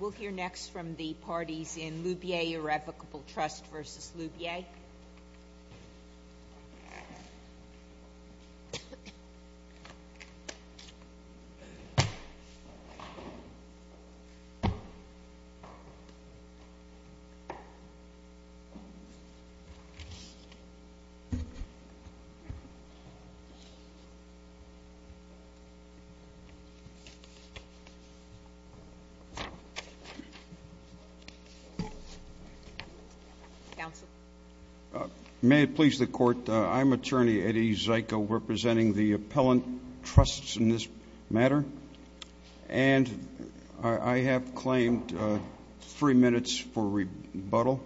We'll hear next from the parties in Loubier Irrevocable Trust versus Loubier. May it please the court, I'm attorney Eddie Zyko representing the appellant trusts in this matter and I have claimed three minutes for rebuttal.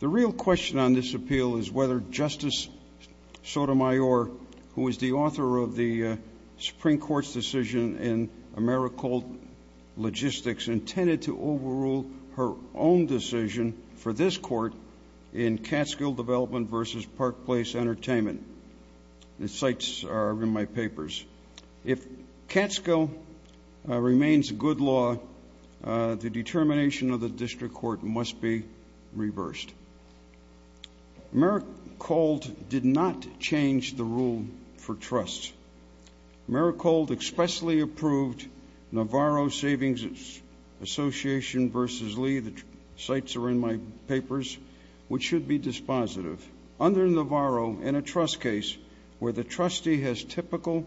The real question on this appeal is whether Justice Sotomayor, who is the author of the Supreme Court's decision in Americold Logistics, intended to overrule her own decision for this court in Catskill Development versus Park Place Entertainment. The sites are in my papers. If Catskill remains a good law, the determination of the district court must be reversed. Americold did not change the rule for trusts. Americold expressly approved Navarro Savings Association versus Lee, the sites are in my papers, which should be dispositive. Under Navarro, in a trust case where the trustee has typical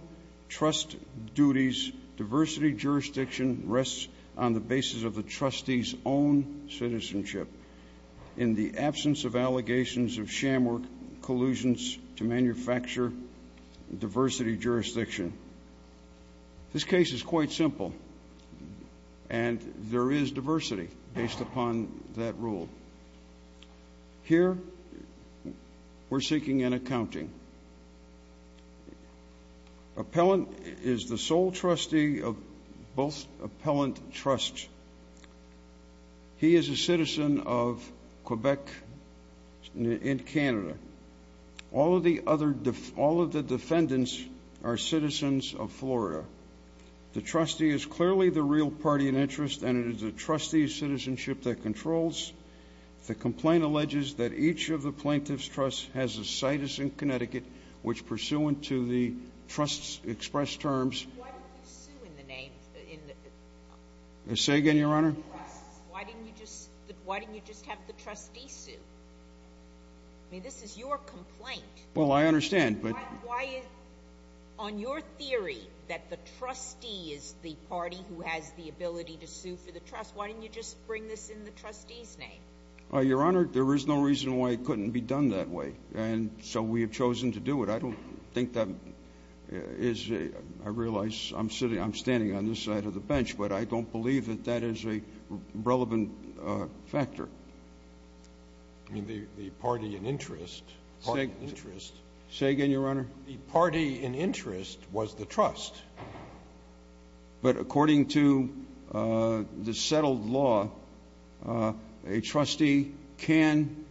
trust duties, diversity jurisdiction rests on the basis of the trustee's own citizenship in the absence of allegations of sham work collusions to manufacture diversity jurisdiction. This case is quite simple and there is diversity based upon that rule. Here, we're seeking an accounting. Appellant is the sole trustee of both appellant trusts. He is a citizen of Quebec and Canada. All of the defendants are citizens of Florida. The trustee is clearly the real party in interest and it is the trustee's citizenship that controls. The complaint alleges that each of the plaintiff's trusts has a situs in Connecticut, which pursuant to the trust's expressed terms. Why didn't you sue in the name? Say again, Your Honor? Why didn't you just have the trustee sue? I mean, this is your complaint. Well, I understand, but on your theory that the trustee is the party who has the ability to sue for the trust, why didn't you just bring this in the trustee's name? Your Honor, there is no reason why it couldn't be done that way. And so we have chosen to do it. I don't think that is a, I realize I'm sitting, I'm standing on this side of the bench, but I don't believe that that is a relevant factor. I mean, the party in interest. Say again, Your Honor? The party in interest was the trust. But according to the settled law, a trustee can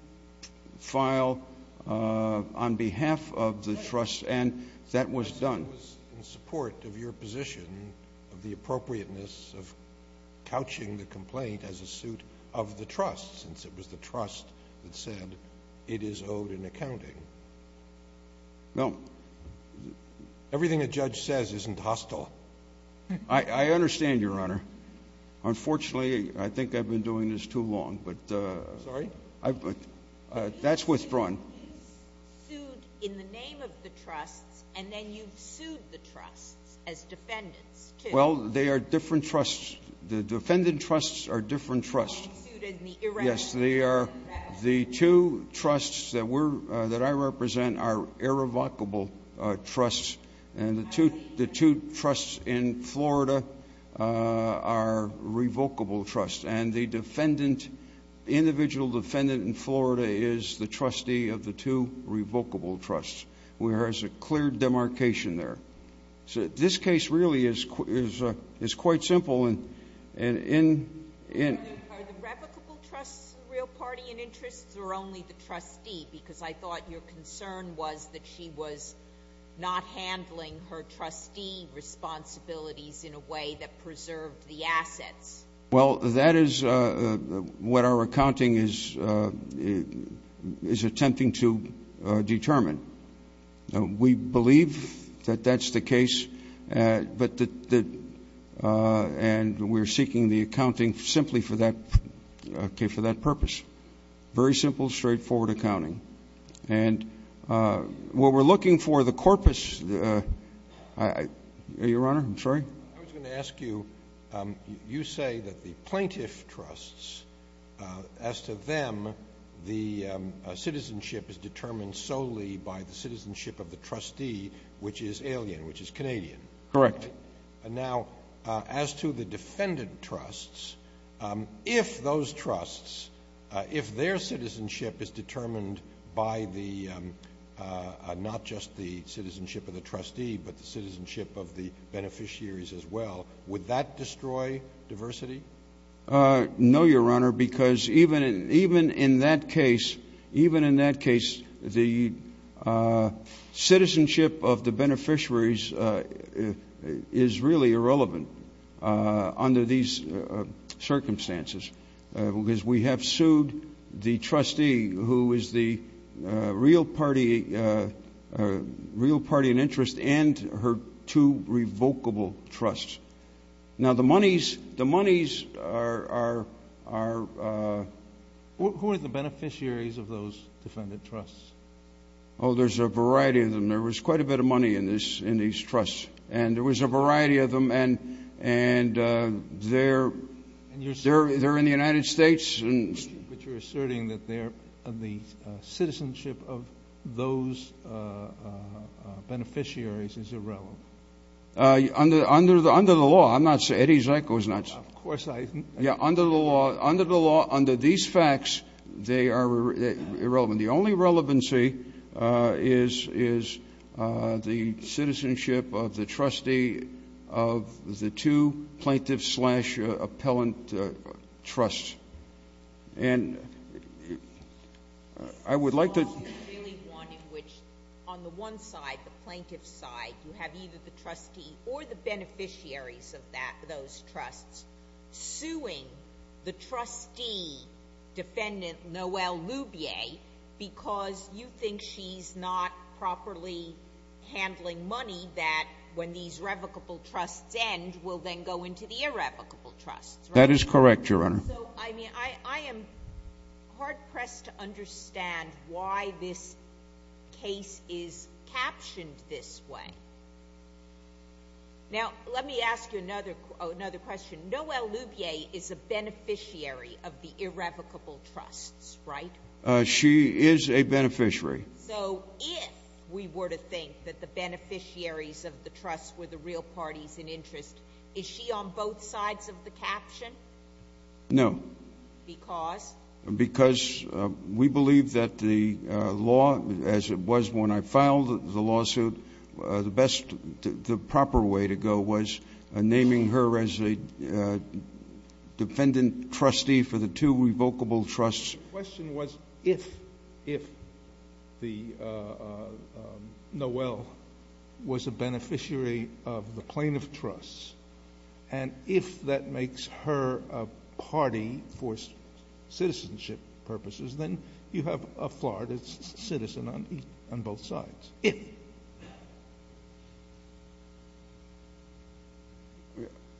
file on behalf of the trust and that was done. I was in support of your position of the appropriateness of couching the complaint as a suit of the trust, since it was the trust that said it is owed in accounting. No. Everything a judge says isn't hostile. I understand, Your Honor. Unfortunately, I think I've been doing this too long. Sorry? That's withdrawn. You've sued in the name of the trusts and then you've sued the trusts as defendants, too. Well, they are different trusts. The defendant trusts are different trusts. Yes, they are. The two trusts that I represent are irrevocable trusts. And the two trusts in Florida are revocable trusts. And the defendant, the individual defendant in Florida is the trustee of the two revocable trusts. There is a clear demarcation there. This case really is quite simple. Are the revocable trusts the real party in interest or only the trustee? Because I thought your concern was that she was not handling her trustee responsibilities in a way that preserved the assets. Well, that is what our accounting is attempting to determine. We believe that that's the case, and we're seeking the accounting simply for that purpose. Very simple, straightforward accounting. And what we're looking for, the corpus – Your Honor, I'm sorry? I was going to ask you, you say that the plaintiff trusts, as to them, the citizenship is determined solely by the citizenship of the trustee, which is alien, which is Canadian. Correct. Now, as to the defendant trusts, if those trusts, if their citizenship is determined by the – would that destroy diversity? No, Your Honor, because even in that case, even in that case, the citizenship of the beneficiaries is really irrelevant under these circumstances. Because we have sued the trustee who is the real party in interest and her two revocable trusts. Now, the monies are – Who are the beneficiaries of those defendant trusts? Oh, there's a variety of them. There was quite a bit of money in these trusts, and there was a variety of them, and they're – And you're – They're in the United States. But you're asserting that the citizenship of those beneficiaries is irrelevant. Under the law, I'm not – Eddie Zyko is not – Of course I – Yeah, under the law, under these facts, they are irrelevant. The only relevancy is the citizenship of the trustee of the two plaintiff-slash-appellant trusts. And I would like to – So all you really want in which on the one side, the plaintiff's side, you have either the trustee or the beneficiaries of that – those trusts suing the trustee defendant, Noel Lubier, because you think she's not properly handling money that, when these revocable trusts end, will then go into the irrevocable trusts, right? That is correct, Your Honor. So, I mean, I am hard-pressed to understand why this case is captioned this way. Now, let me ask you another question. Noel Lubier is a beneficiary of the irrevocable trusts, right? She is a beneficiary. So if we were to think that the beneficiaries of the trusts were the real parties in interest, is she on both sides of the caption? No. Because? Because we believe that the law, as it was when I filed the lawsuit, the best – the proper way to go was naming her as a defendant-trustee for the two revocable trusts. The question was if, if the – Noel was a beneficiary of the plaintiff trusts, and if that makes her a party for citizenship purposes, then you have a Florida citizen on both sides. If.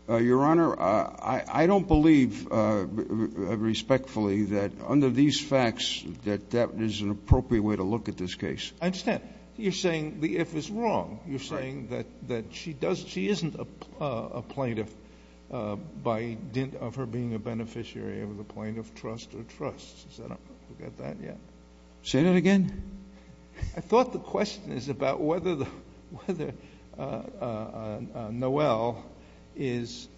Your Honor, I don't believe, respectfully, that under these facts that that is an appropriate way to look at this case. I understand. You're saying the if is wrong. Right. You're saying that she doesn't – she isn't a plaintiff by – of her being a beneficiary of the plaintiff trust or trusts. I don't know if I got that yet. Say that again? I thought the question is about whether Noel is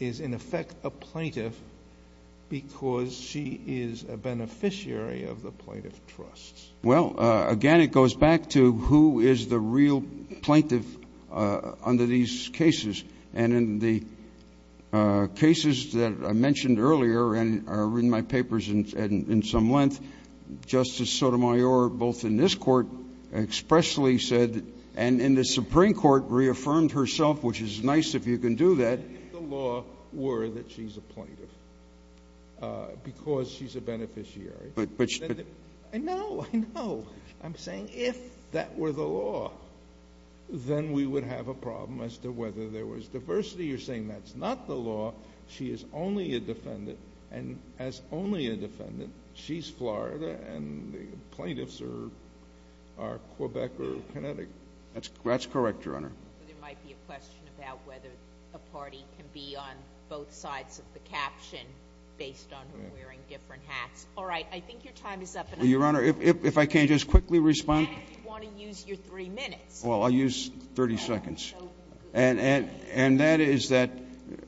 in effect a plaintiff because she is a beneficiary of the plaintiff trusts. Well, again, it goes back to who is the real plaintiff under these cases. And in the cases that I mentioned earlier and are in my papers in some length, Justice Sotomayor, both in this court expressly said, and in the Supreme Court, reaffirmed herself, which is nice if you can do that. If the law were that she's a plaintiff because she's a beneficiary. I know. I know. I'm saying if that were the law, then we would have a problem as to whether there was diversity. You're saying that's not the law. She is only a defendant. And as only a defendant, she's Florida and the plaintiffs are Quebec or Connecticut. That's correct, Your Honor. There might be a question about whether a party can be on both sides of the caption based on her wearing different hats. All right. I think your time is up. Your Honor, if I can just quickly respond. If you want to use your three minutes. Well, I'll use 30 seconds. And that is that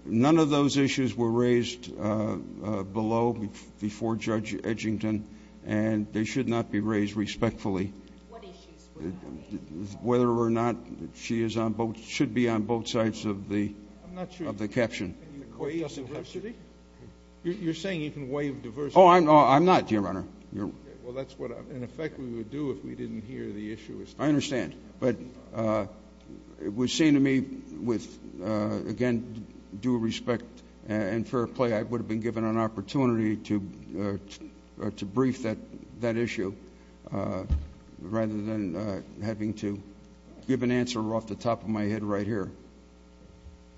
none of those issues were raised below before Judge Edgington, and they should not be raised respectfully. What issues? Whether or not she should be on both sides of the caption. I'm not sure. You're saying you can waive diversity? Oh, I'm not, Your Honor. Well, that's what, in effect, we would do if we didn't hear the issue. I understand. But it would seem to me with, again, due respect and fair play, I would have been given an opportunity to brief that issue, rather than having to give an answer off the top of my head right here.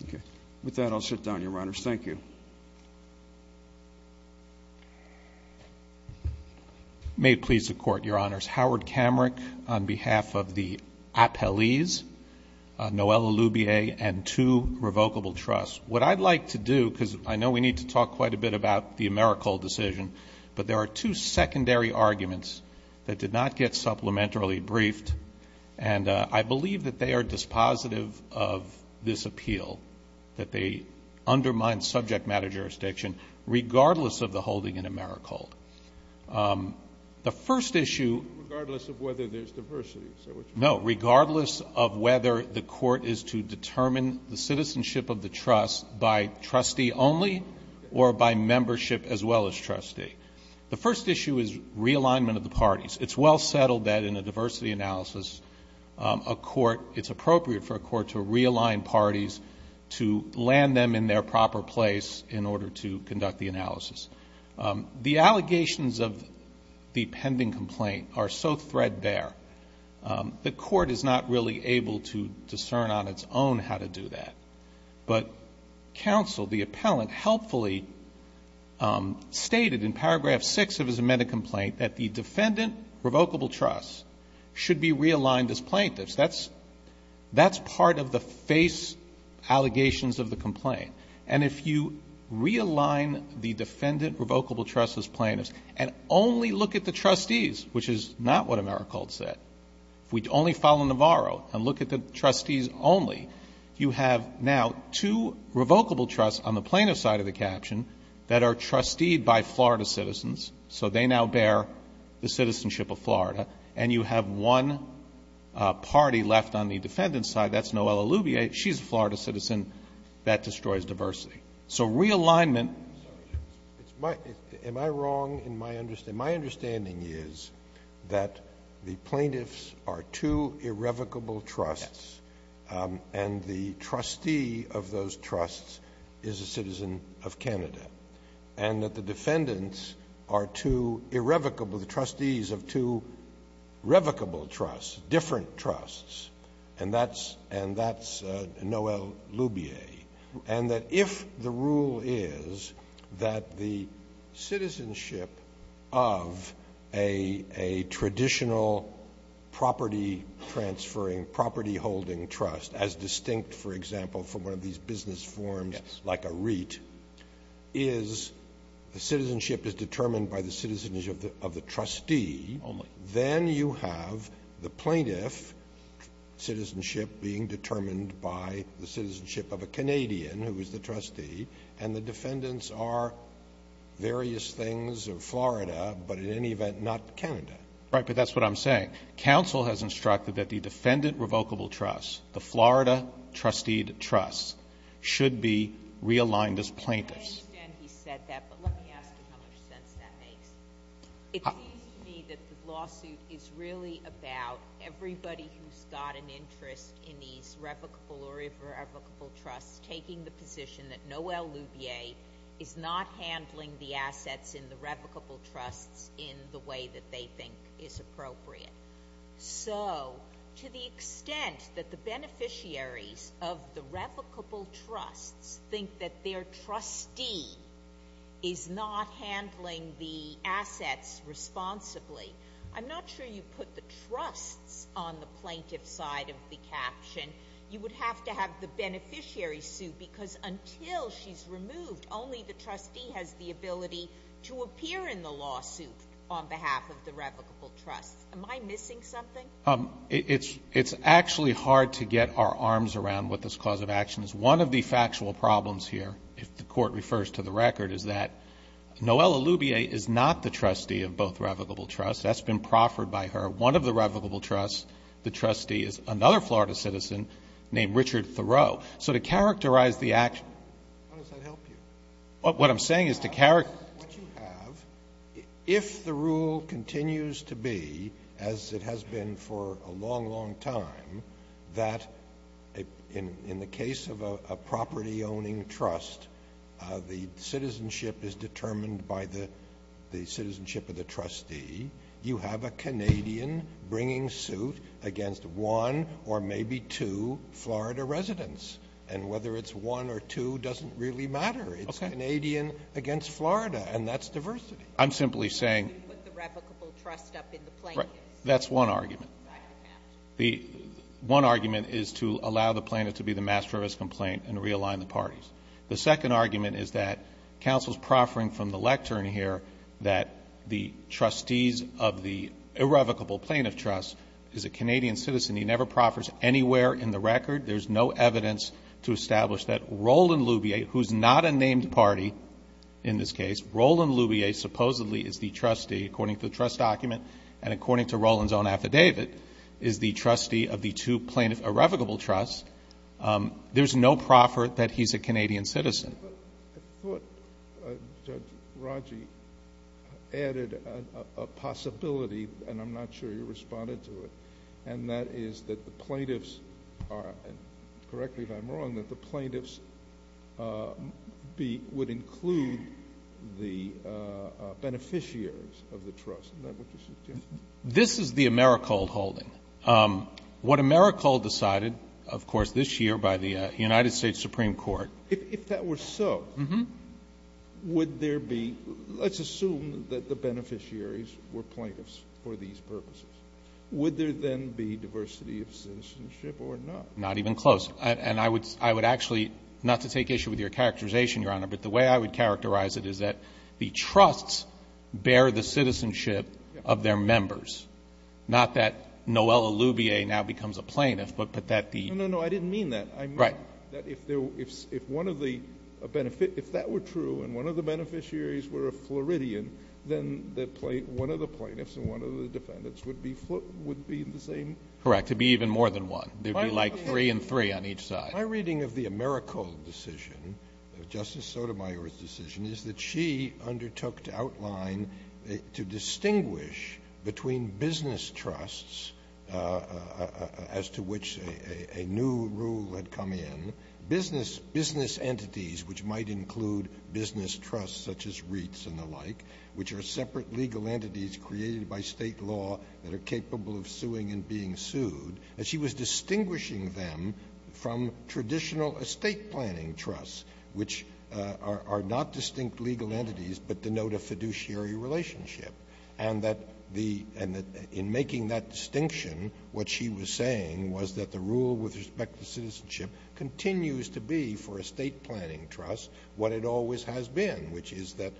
Okay. With that, I'll sit down, Your Honor. Thank you. May it please the Court, Your Honors. Howard Kamrick, on behalf of the Appellees, Noelle Elubier, and two revocable trusts. What I'd like to do, because I know we need to talk quite a bit about the Americal decision, but there are two secondary arguments that did not get supplementarily briefed, and I believe that they are dispositive of this appeal, that they undermine subject matter jurisdiction, regardless of the holding in Americal. The first issue. Regardless of whether there's diversity. No, regardless of whether the Court is to determine the citizenship of the trust by trustee only or by membership as well as trustee. The first issue is realignment of the parties. It's well settled that in a diversity analysis, a court, it's appropriate for a court to realign parties to land them in their proper place in order to conduct the analysis. The allegations of the pending complaint are so threadbare, the Court is not really able to discern on its own how to do that. But counsel, the appellant, helpfully stated in paragraph six of his amended complaint that the defendant revocable trust should be realigned as plaintiffs. That's part of the face allegations of the complaint. And if you realign the defendant revocable trust as plaintiffs and only look at the trustees, which is not what Americal said, if we only follow Navarro and look at the trustees only, you have now two revocable trusts on the plaintiff's side of the caption that are trusteed by Florida citizens. So they now bear the citizenship of Florida. And you have one party left on the defendant's side. That's Noelle Allubia. She's a Florida citizen. That destroys diversity. So realignment. Scalia. Am I wrong in my understanding? My understanding is that the plaintiffs are two irrevocable trusts and the trustee of those trusts is a citizen of Canada. And that the defendants are two irrevocable, the trustees of two revocable trusts, different trusts, and that's Noelle Allubia. And that if the rule is that the citizenship of a traditional property transferring property holding trust as distinct, for example, from one of these business forms like a REIT, is the citizenship is determined by the citizenship of the trustee, then you have the plaintiff citizenship being determined by the citizenship of a Canadian who is the trustee, and the defendants are various things of Florida, but in any event not Canada. Right, but that's what I'm saying. Counsel has instructed that the defendant revocable trust, the Florida trustee trust, should be realigned as plaintiffs. I understand he said that, but let me ask him how much sense that makes. It seems to me that the lawsuit is really about everybody who's got an interest in these revocable or irrevocable trusts taking the position that Noelle Allubia is not handling the assets in the revocable trusts in the way that they think is appropriate. So to the extent that the beneficiaries of the revocable trusts think that their assets responsibly, I'm not sure you put the trusts on the plaintiff side of the caption. You would have to have the beneficiary sue, because until she's removed, only the trustee has the ability to appear in the lawsuit on behalf of the revocable trusts. Am I missing something? It's actually hard to get our arms around what this cause of action is. One of the factual problems here, if the Court refers to the record, is that Noelle Allubia is the trustee of both revocable trusts. That's been proffered by her. One of the revocable trusts, the trustee, is another Florida citizen named Richard Thoreau. So to characterize the action --" How does that help you? What I'm saying is to characterize. What you have, if the rule continues to be, as it has been for a long, long time, that in the case of a property-owning trust, the citizenship is determined by the citizenship of the trustee, you have a Canadian bringing suit against one or maybe two Florida residents. And whether it's one or two doesn't really matter. It's Canadian against Florida, and that's diversity. I'm simply saying --" You put the revocable trust up in the plaintiffs. That's one argument. One argument is to allow the plaintiff to be the master of his complaint and realign the parties. The second argument is that counsel's proffering from the lectern here that the trustees of the irrevocable plaintiff trust is a Canadian citizen. He never proffers anywhere in the record. There's no evidence to establish that Roland Lubier, who's not a named party in this case, Roland Lubier supposedly is the trustee, according to the trust document, and according to Roland's own affidavit, is the trustee of the two plaintiff irrevocable trusts. There's no proffer that he's a Canadian citizen. I thought Judge Raji added a possibility, and I'm not sure you responded to it, and that is that the plaintiffs are, and correct me if I'm wrong, that the plaintiffs would include the beneficiaries of the trust. Is that what you're suggesting? This is the Americold holding. What Americold decided, of course, this year by the United States Supreme Court. If that were so, would there be, let's assume that the beneficiaries were plaintiffs for these purposes, would there then be diversity of citizenship or not? Not even close. And I would actually, not to take issue with your characterization, Your Honor, but the way I would characterize it is that the trusts bear the citizenship of their members. Not that Noelle Allubier now becomes a plaintiff, but that the ---- No, no, no. I didn't mean that. I meant that if one of the beneficiaries, if that were true, and one of the beneficiaries were a Floridian, then one of the plaintiffs and one of the defendants would be the same. Correct. It would be even more than one. There would be like three and three on each side. My reading of the Americold decision, Justice Sotomayor's decision, is that she undertook to outline, to distinguish between business trusts, as to which a new rule had come in, business entities which might include business trusts such as REITs and the like, which are separate legal entities created by State law that are capable of suing and being sued. And she was distinguishing them from traditional estate planning trusts, which are not distinct legal entities but denote a fiduciary relationship. And that the ---- and that in making that distinction, what she was saying was that the rule with respect to citizenship continues to be for estate planning trusts what it always has been, which is that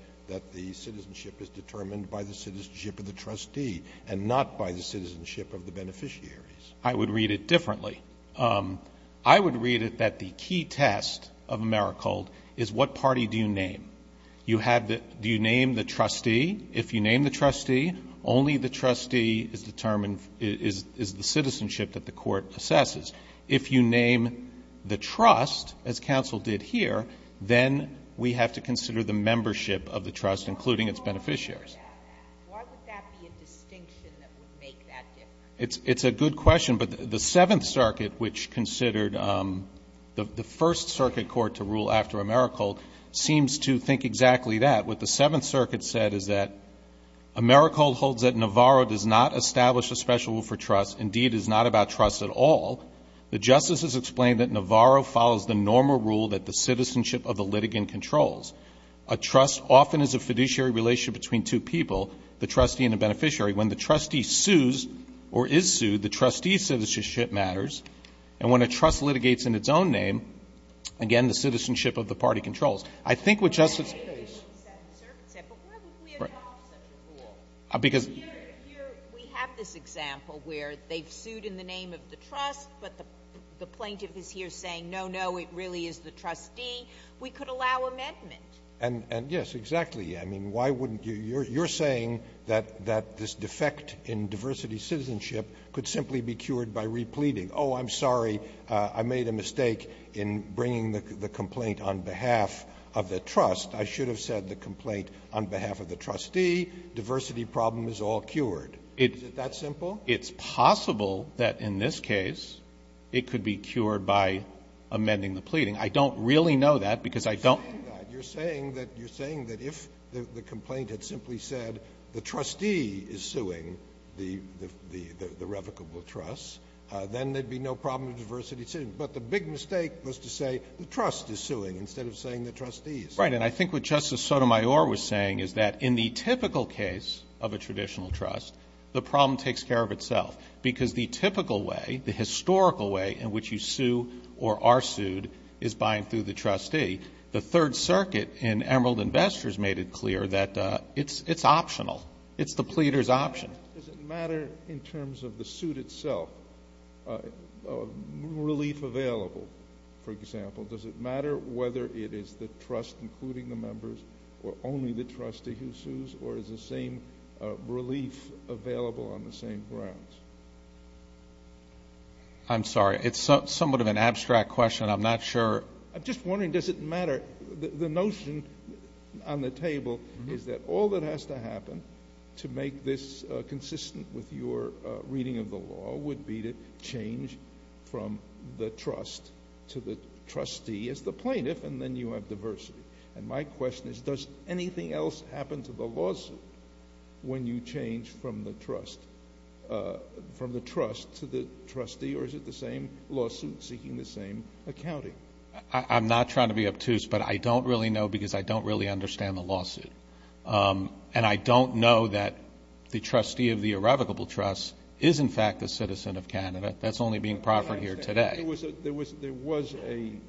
the citizenship is determined by the citizenship of the trustee and not by the citizenship of the beneficiaries. I would read it differently. I would read it that the key test of Americold is what party do you name? Do you name the trustee? If you name the trustee, only the trustee is the citizenship that the court assesses. If you name the trust, as counsel did here, then we have to consider the membership of the trust, including its beneficiaries. Why would that be a distinction that would make that difference? It's a good question. But the Seventh Circuit, which considered the first circuit court to rule after Americold, seems to think exactly that. What the Seventh Circuit said is that Americold holds that Navarro does not establish a special rule for trust, indeed is not about trust at all. The justices explain that Navarro follows the normal rule that the citizenship of the litigant controls. A trust often is a fiduciary relationship between two people, the trustee and the beneficiary. When the trustee sues or is sued, the trustee's citizenship matters. And when a trust litigates in its own name, again, the citizenship of the party controls. I think what Justice Kagan said at the Seventh Circuit said, but why would we adopt such a rule? Because here we have this example where they've sued in the name of the trust, but the plaintiff is here saying, no, no, it really is the trustee. We could allow amendment. And yes, exactly. I mean, why wouldn't you? You're saying that this defect in diversity citizenship could simply be cured by repleting. Oh, I'm sorry. I made a mistake in bringing the complaint on behalf of the trust. I should have said the complaint on behalf of the trustee. Diversity problem is all cured. Is it that simple? It's possible that in this case it could be cured by amending the pleading. I don't really know that because I don't know. You're saying that you're saying that if the complaint had simply said the trustee is suing the revocable trust, then there'd be no problem with diversity citizenship. But the big mistake was to say the trust is suing instead of saying the trustee is suing. Right. And I think what Justice Sotomayor was saying is that in the typical case of a traditional trust, the problem takes care of itself, because the typical way, the historical way in which you sue or are sued is by and through the trustee. The Third Circuit in Emerald Investors made it clear that it's optional. It's the pleader's option. Does it matter in terms of the suit itself, relief available, for example? Does it matter whether it is the trust, including the members, or only the trustee who sues, or is the same relief available on the same grounds? I'm sorry. It's somewhat of an abstract question. I'm not sure. I'm just wondering, does it matter? The notion on the table is that all that has to happen to make this consistent with your reading of the law would be to change from the trust to the trustee as the plaintiff, and then you have diversity. And my question is, does anything else happen to the lawsuit when you change from the trust to the trustee, or is it the same lawsuit seeking the same accounting? I'm not trying to be obtuse, but I don't really know because I don't really understand the lawsuit. And I don't know that the trustee of the irrevocable trust is, in fact, the citizen of Canada. That's only being proffered here today. There was an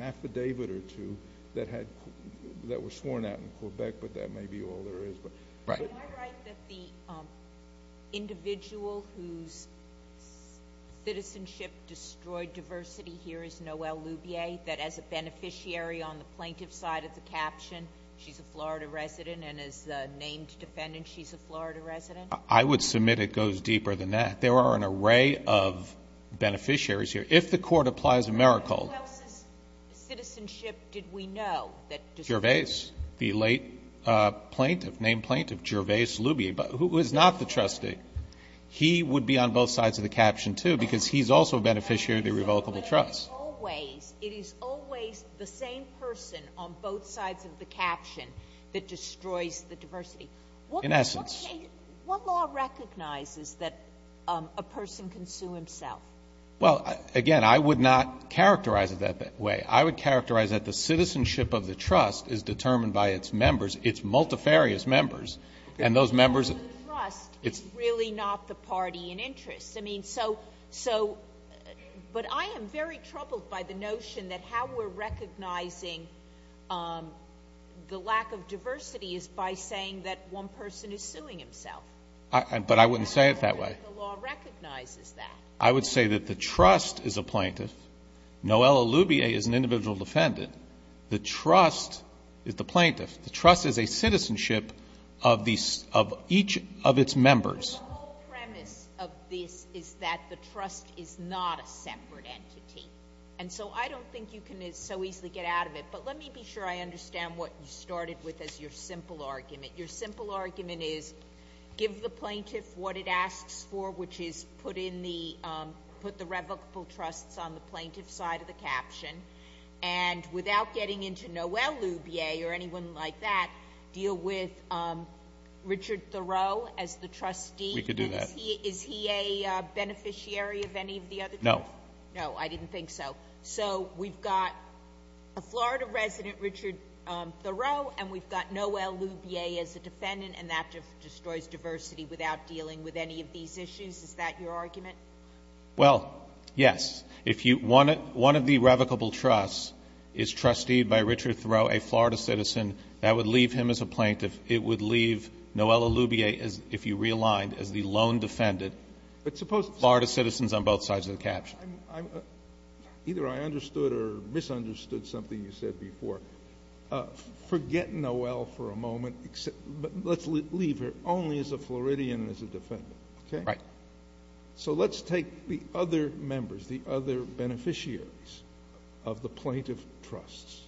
affidavit or two that were sworn out in Quebec, but that may be all there is. Right. Am I right that the individual whose citizenship destroyed diversity here is Noelle Lubier, that as a beneficiary on the plaintiff's side of the caption, she's a Florida resident, and as a named defendant, she's a Florida resident? I would submit it goes deeper than that. There are an array of beneficiaries here. If the court applies a miracle. Who else's citizenship did we know that destroyed diversity? Name plaintiff, Gervais Lubier, who is not the trustee. He would be on both sides of the caption, too, because he's also a beneficiary of the irrevocable trust. But it is always the same person on both sides of the caption that destroys the diversity. In essence. What law recognizes that a person can sue himself? Well, again, I would not characterize it that way. I would characterize that the citizenship of the trust is determined by its members, its multifarious members. And those members. The trust is really not the party in interest. I mean, so, but I am very troubled by the notion that how we're recognizing the lack of diversity is by saying that one person is suing himself. But I wouldn't say it that way. The law recognizes that. I would say that the trust is a plaintiff. Noelle Lubier is an individual defendant. The trust is the plaintiff. The trust is a citizenship of each of its members. But the whole premise of this is that the trust is not a separate entity. And so I don't think you can so easily get out of it. But let me be sure I understand what you started with as your simple argument. Your simple argument is give the plaintiff what it asks for, which is put the revocable trusts on the plaintiff's side of the caption. And without getting into Noelle Lubier or anyone like that, deal with Richard Thoreau as the trustee. We could do that. Is he a beneficiary of any of the other trusts? No. No, I didn't think so. So we've got a Florida resident, Richard Thoreau, and we've got Noelle Lubier as a defendant, and that just destroys diversity without dealing with any of these issues? Is that your argument? Well, yes. If you one of the revocable trusts is trusteed by Richard Thoreau, a Florida citizen, that would leave him as a plaintiff. It would leave Noelle Lubier, if you realigned, as the lone defendant. But suppose Florida citizens on both sides of the caption. Either I understood or misunderstood something you said before. Forget Noelle for a moment, but let's leave her only as a Floridian and as a defendant, okay? Right. So let's take the other members, the other beneficiaries of the plaintiff trusts,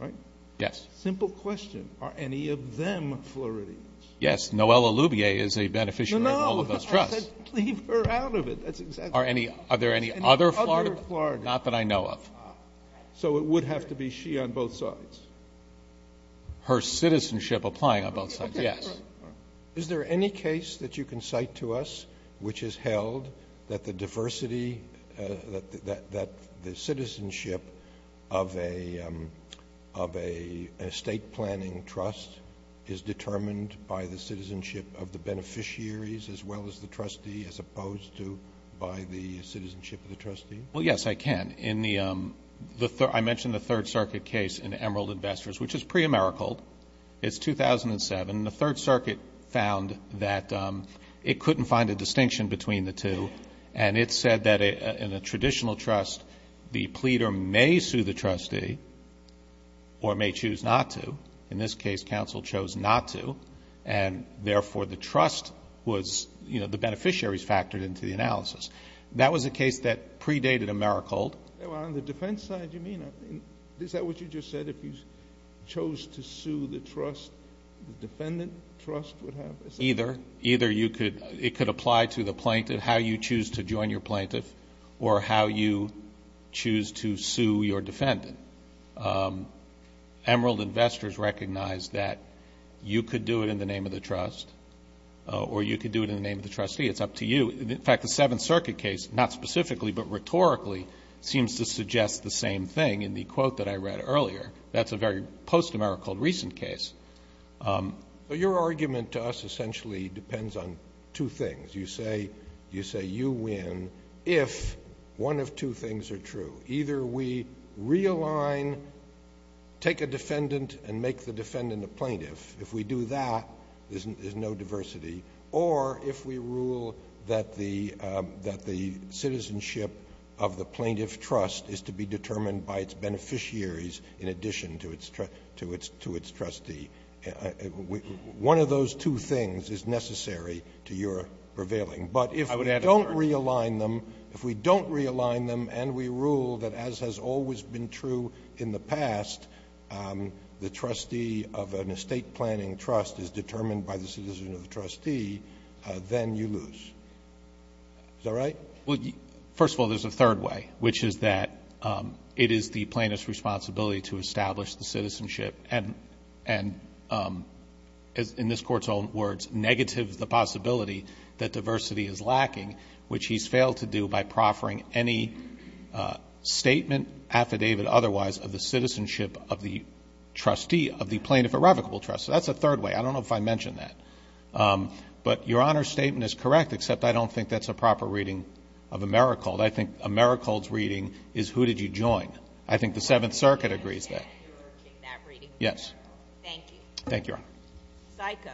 right? Yes. Simple question. Are any of them Floridians? Yes. Noelle Lubier is a beneficiary of all of those trusts. No, no. I said leave her out of it. That's exactly right. Are there any other Floridians? Other Floridians. Not that I know of. So it would have to be she on both sides. Her citizenship applying on both sides. Yes. Is there any case that you can cite to us which has held that the diversity, that the citizenship of a state planning trust is determined by the citizenship of the beneficiaries as well as the trustee as opposed to by the citizenship of the trustee? Well, yes, I can. I mentioned the Third Circuit case in Emerald Investors, which is pre-Emerald. It's 2007. The Third Circuit found that it couldn't find a distinction between the two. And it said that in a traditional trust, the pleader may sue the trustee or may choose not to. In this case, counsel chose not to. And, therefore, the trust was, you know, the beneficiaries factored into the analysis. That was a case that predated Emerald. On the defense side, you mean, is that what you just said? If you chose to sue the trust, the defendant trust would have a say? Either. Either it could apply to the plaintiff, how you choose to join your plaintiff, or how you choose to sue your defendant. Emerald Investors recognized that you could do it in the name of the trust or you could do it in the name of the trustee. It's up to you. In fact, the Seventh Circuit case, not specifically but rhetorically, seems to suggest the same thing in the quote that I read earlier. That's a very post-American recent case. But your argument to us essentially depends on two things. You say you win if one of two things are true. Either we realign, take a defendant and make the defendant a plaintiff. If we do that, there's no diversity. Or if we rule that the citizenship of the plaintiff trust is to be determined by its beneficiaries in addition to its trustee. One of those two things is necessary to your prevailing. But if we don't realign them, if we don't realign them and we rule that as has always been true in the past, the trustee of an estate planning trust is determined by the citizen of the trustee, then you lose. Is that right? Well, first of all, there's a third way, which is that it is the plaintiff's responsibility to establish the citizenship and, in this Court's own words, negative the possibility that diversity is lacking, which he's failed to do by proffering any statement, affidavit otherwise, of the citizenship of the trustee of the plaintiff irrevocable trust. So that's a third way. I don't know if I mentioned that. But Your Honor's statement is correct, except I don't think that's a proper reading of Americold. I think Americold's reading is who did you join. I think the Seventh Circuit agrees that. Yes. Thank you. Thank you, Your Honor. Psycho.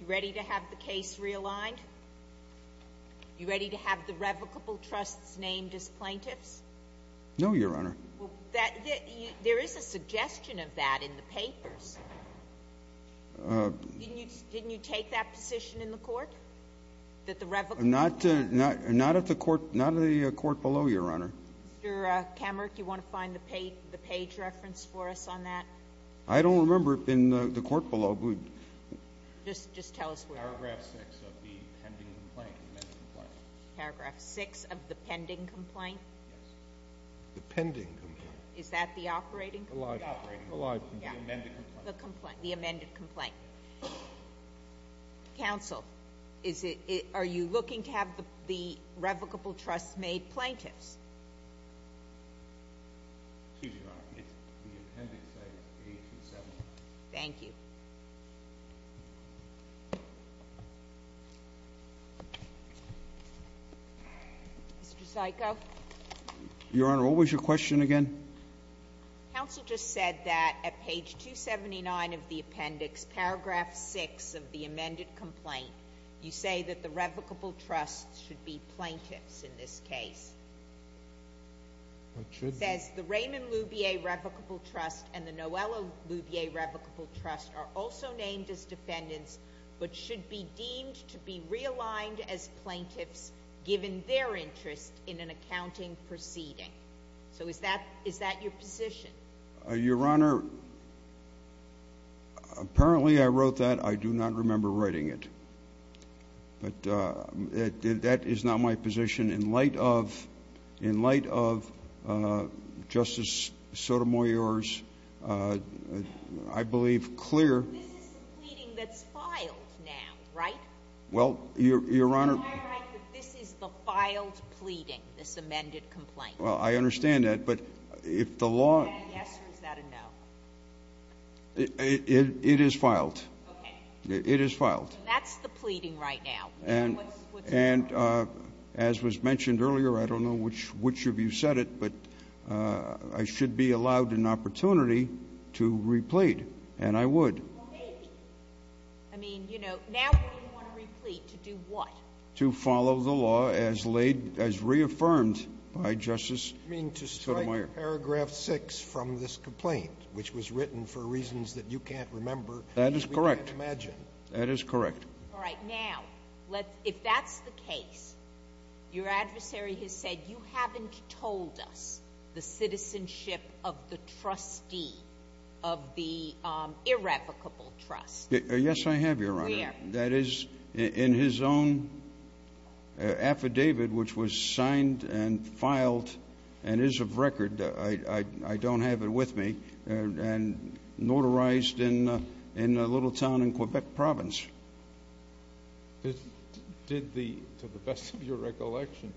You ready to have the case realigned? You ready to have the revocable trusts named as plaintiffs? No, Your Honor. There is a suggestion of that in the papers. Didn't you take that position in the Court, that the revocable trusts? Not at the Court below, Your Honor. Mr. Kammerich, do you want to find the page reference for us on that? I don't remember it in the Court below. Just tell us where. Paragraph 6 of the pending complaint. Paragraph 6 of the pending complaint? Yes. The pending complaint. Is that the operating complaint? The operating complaint. The live complaint. The amended complaint. The amended complaint. Counsel, are you looking to have the revocable trusts made plaintiffs? Excuse me, Your Honor. The appendix says page 279. Thank you. Mr. Psycho. Your Honor, what was your question again? Counsel just said that at page 279 of the appendix, paragraph 6 of the amended complaint, you say that the revocable trusts should be plaintiffs in this case. It should be. It says, the Raymond Lubier Revocable Trust and the Noella Lubier Revocable Trust are also named as defendants but should be deemed to be realigned as plaintiffs given their interest in an accounting proceeding. So is that your position? Your Honor, apparently I wrote that. I do not remember writing it. But that is not my position. In light of Justice Sotomayor's, I believe, clear ---- This is the pleading that's filed now, right? Well, Your Honor ---- Am I right that this is the filed pleading, this amended complaint? Well, I understand that. But if the law ---- Is that a yes or is that a no? It is filed. Okay. It is filed. That's the pleading right now. And as was mentioned earlier, I don't know which of you said it, but I should be allowed an opportunity to replete, and I would. Well, maybe. I mean, you know, now what do you want to replete? To do what? To follow the law as reaffirmed by Justice Sotomayor. You mean to strike paragraph 6 from this complaint, which was written for reasons that you can't remember and we can't imagine? That is correct. That is correct. All right. Now, if that's the case, your adversary has said, you haven't told us the citizenship of the trustee of the irrevocable trust. Yes, I have, Your Honor. Where? That is in his own affidavit, which was signed and filed and is of record. I don't have it with me. And notarized in a little town in Quebec province. To the best of your recollection,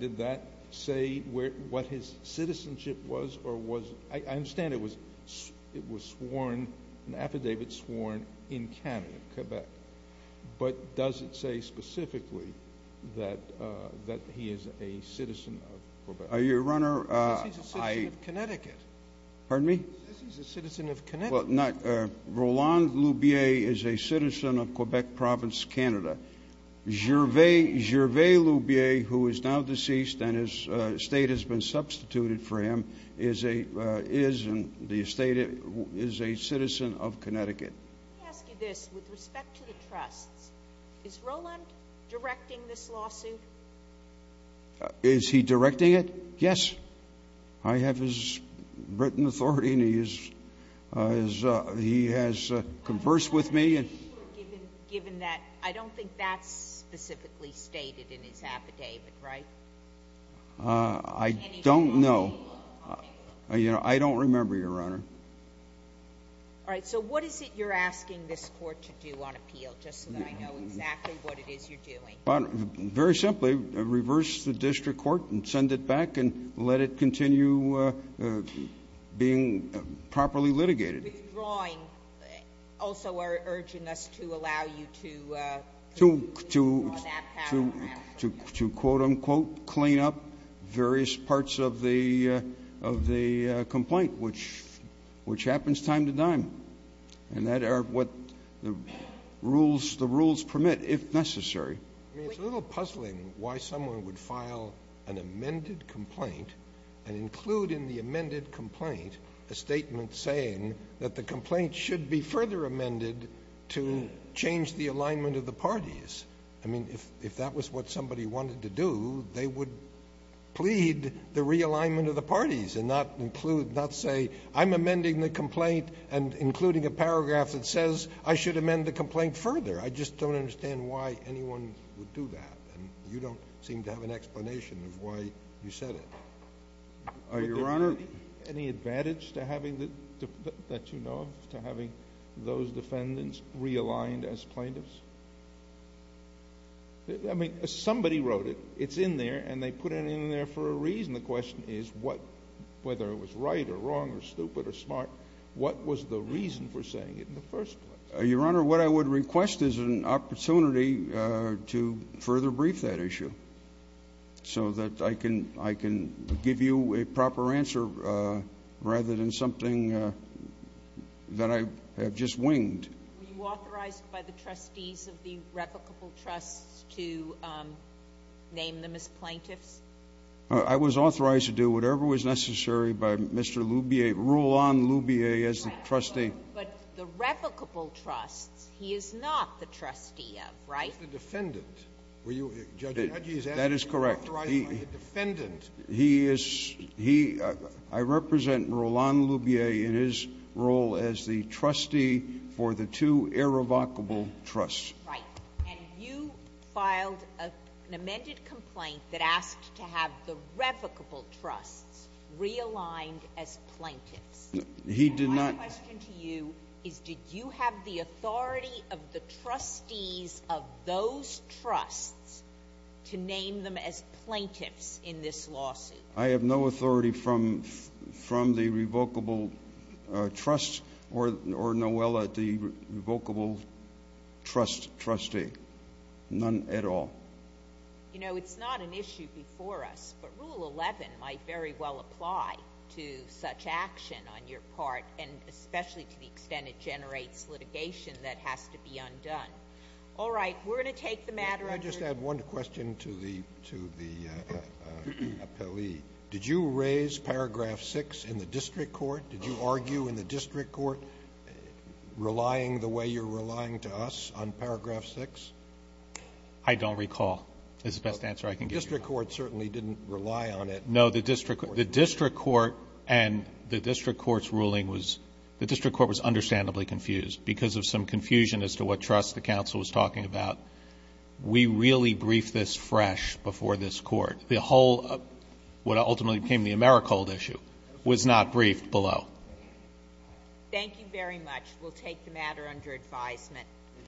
did that say what his citizenship was or was ---- I understand it was sworn, an affidavit sworn in Canada, Quebec. But does it say specifically that he is a citizen of Quebec? Your Honor, I ---- He says he's a citizen of Connecticut. Pardon me? He says he's a citizen of Connecticut. Well, not ---- Roland Lubier is a citizen of Quebec province, Canada. Gervais Lubier, who is now deceased and his estate has been substituted for him, is a citizen of Connecticut. Let me ask you this. With respect to the trusts, is Roland directing this lawsuit? Is he directing it? Yes. I have his written authority and he has conversed with me. Given that, I don't think that's specifically stated in his affidavit, right? I don't know. I don't remember, Your Honor. All right, so what is it you're asking this court to do on appeal, just so that I know exactly what it is you're doing? Very simply, reverse the district court and send it back and let it continue being properly litigated. Withdrawing also are urging us to allow you to ---- To quote, unquote, clean up various parts of the complaint, which happens time to time. And that are what the rules permit, if necessary. I mean, it's a little puzzling why someone would file an amended complaint and include in the amended complaint a statement saying that the complaint should be further amended to change the alignment of the parties. I mean, if that was what somebody wanted to do, they would plead the realignment of the parties and not include, not say I'm amending the complaint and including a paragraph that says I should amend the complaint further. I just don't understand why anyone would do that. And you don't seem to have an explanation of why you said it. Your Honor. Any advantage that you know of to having those defendants realigned as plaintiffs? I mean, somebody wrote it. It's in there and they put it in there for a reason. The question is whether it was right or wrong or stupid or smart, what was the reason for saying it in the first place? Your Honor, what I would request is an opportunity to further brief that issue so that I can give you a proper answer rather than something that I have just winged. Were you authorized by the trustees of the replicable trusts to name them as plaintiffs? I was authorized to do whatever was necessary by Mr. Lubier, rule on Lubier as the trustee. But the replicable trusts, he is not the trustee of, right? He's the defendant. Were you, Judge? That is correct. Authorized by the defendant. He is, he, I represent rule on Lubier in his role as the trustee for the two irrevocable trusts. Right. And you filed an amended complaint that asked to have the replicable trusts realigned as plaintiffs. He did not. My question to you is did you have the authority of the trustees of those trusts to name them as plaintiffs in this lawsuit? I have no authority from the revocable trusts or, Noelle, the revocable trust trustee. None at all. You know, it's not an issue before us. But rule 11 might very well apply to such action on your part, and especially to the extent it generates litigation that has to be undone. All right. We're going to take the matter under review. Can I just add one question to the appellee? Did you raise paragraph 6 in the district court? Did you argue in the district court relying the way you're relying to us on paragraph 6? I don't recall is the best answer I can give you. The district court certainly didn't rely on it. No, the district court and the district court's ruling was, the district court was understandably confused because of some confusion as to what trust the counsel was talking about. We really briefed this fresh before this court. The whole, what ultimately became the Americold issue was not briefed below. Thank you very much. We'll take the matter under advisement.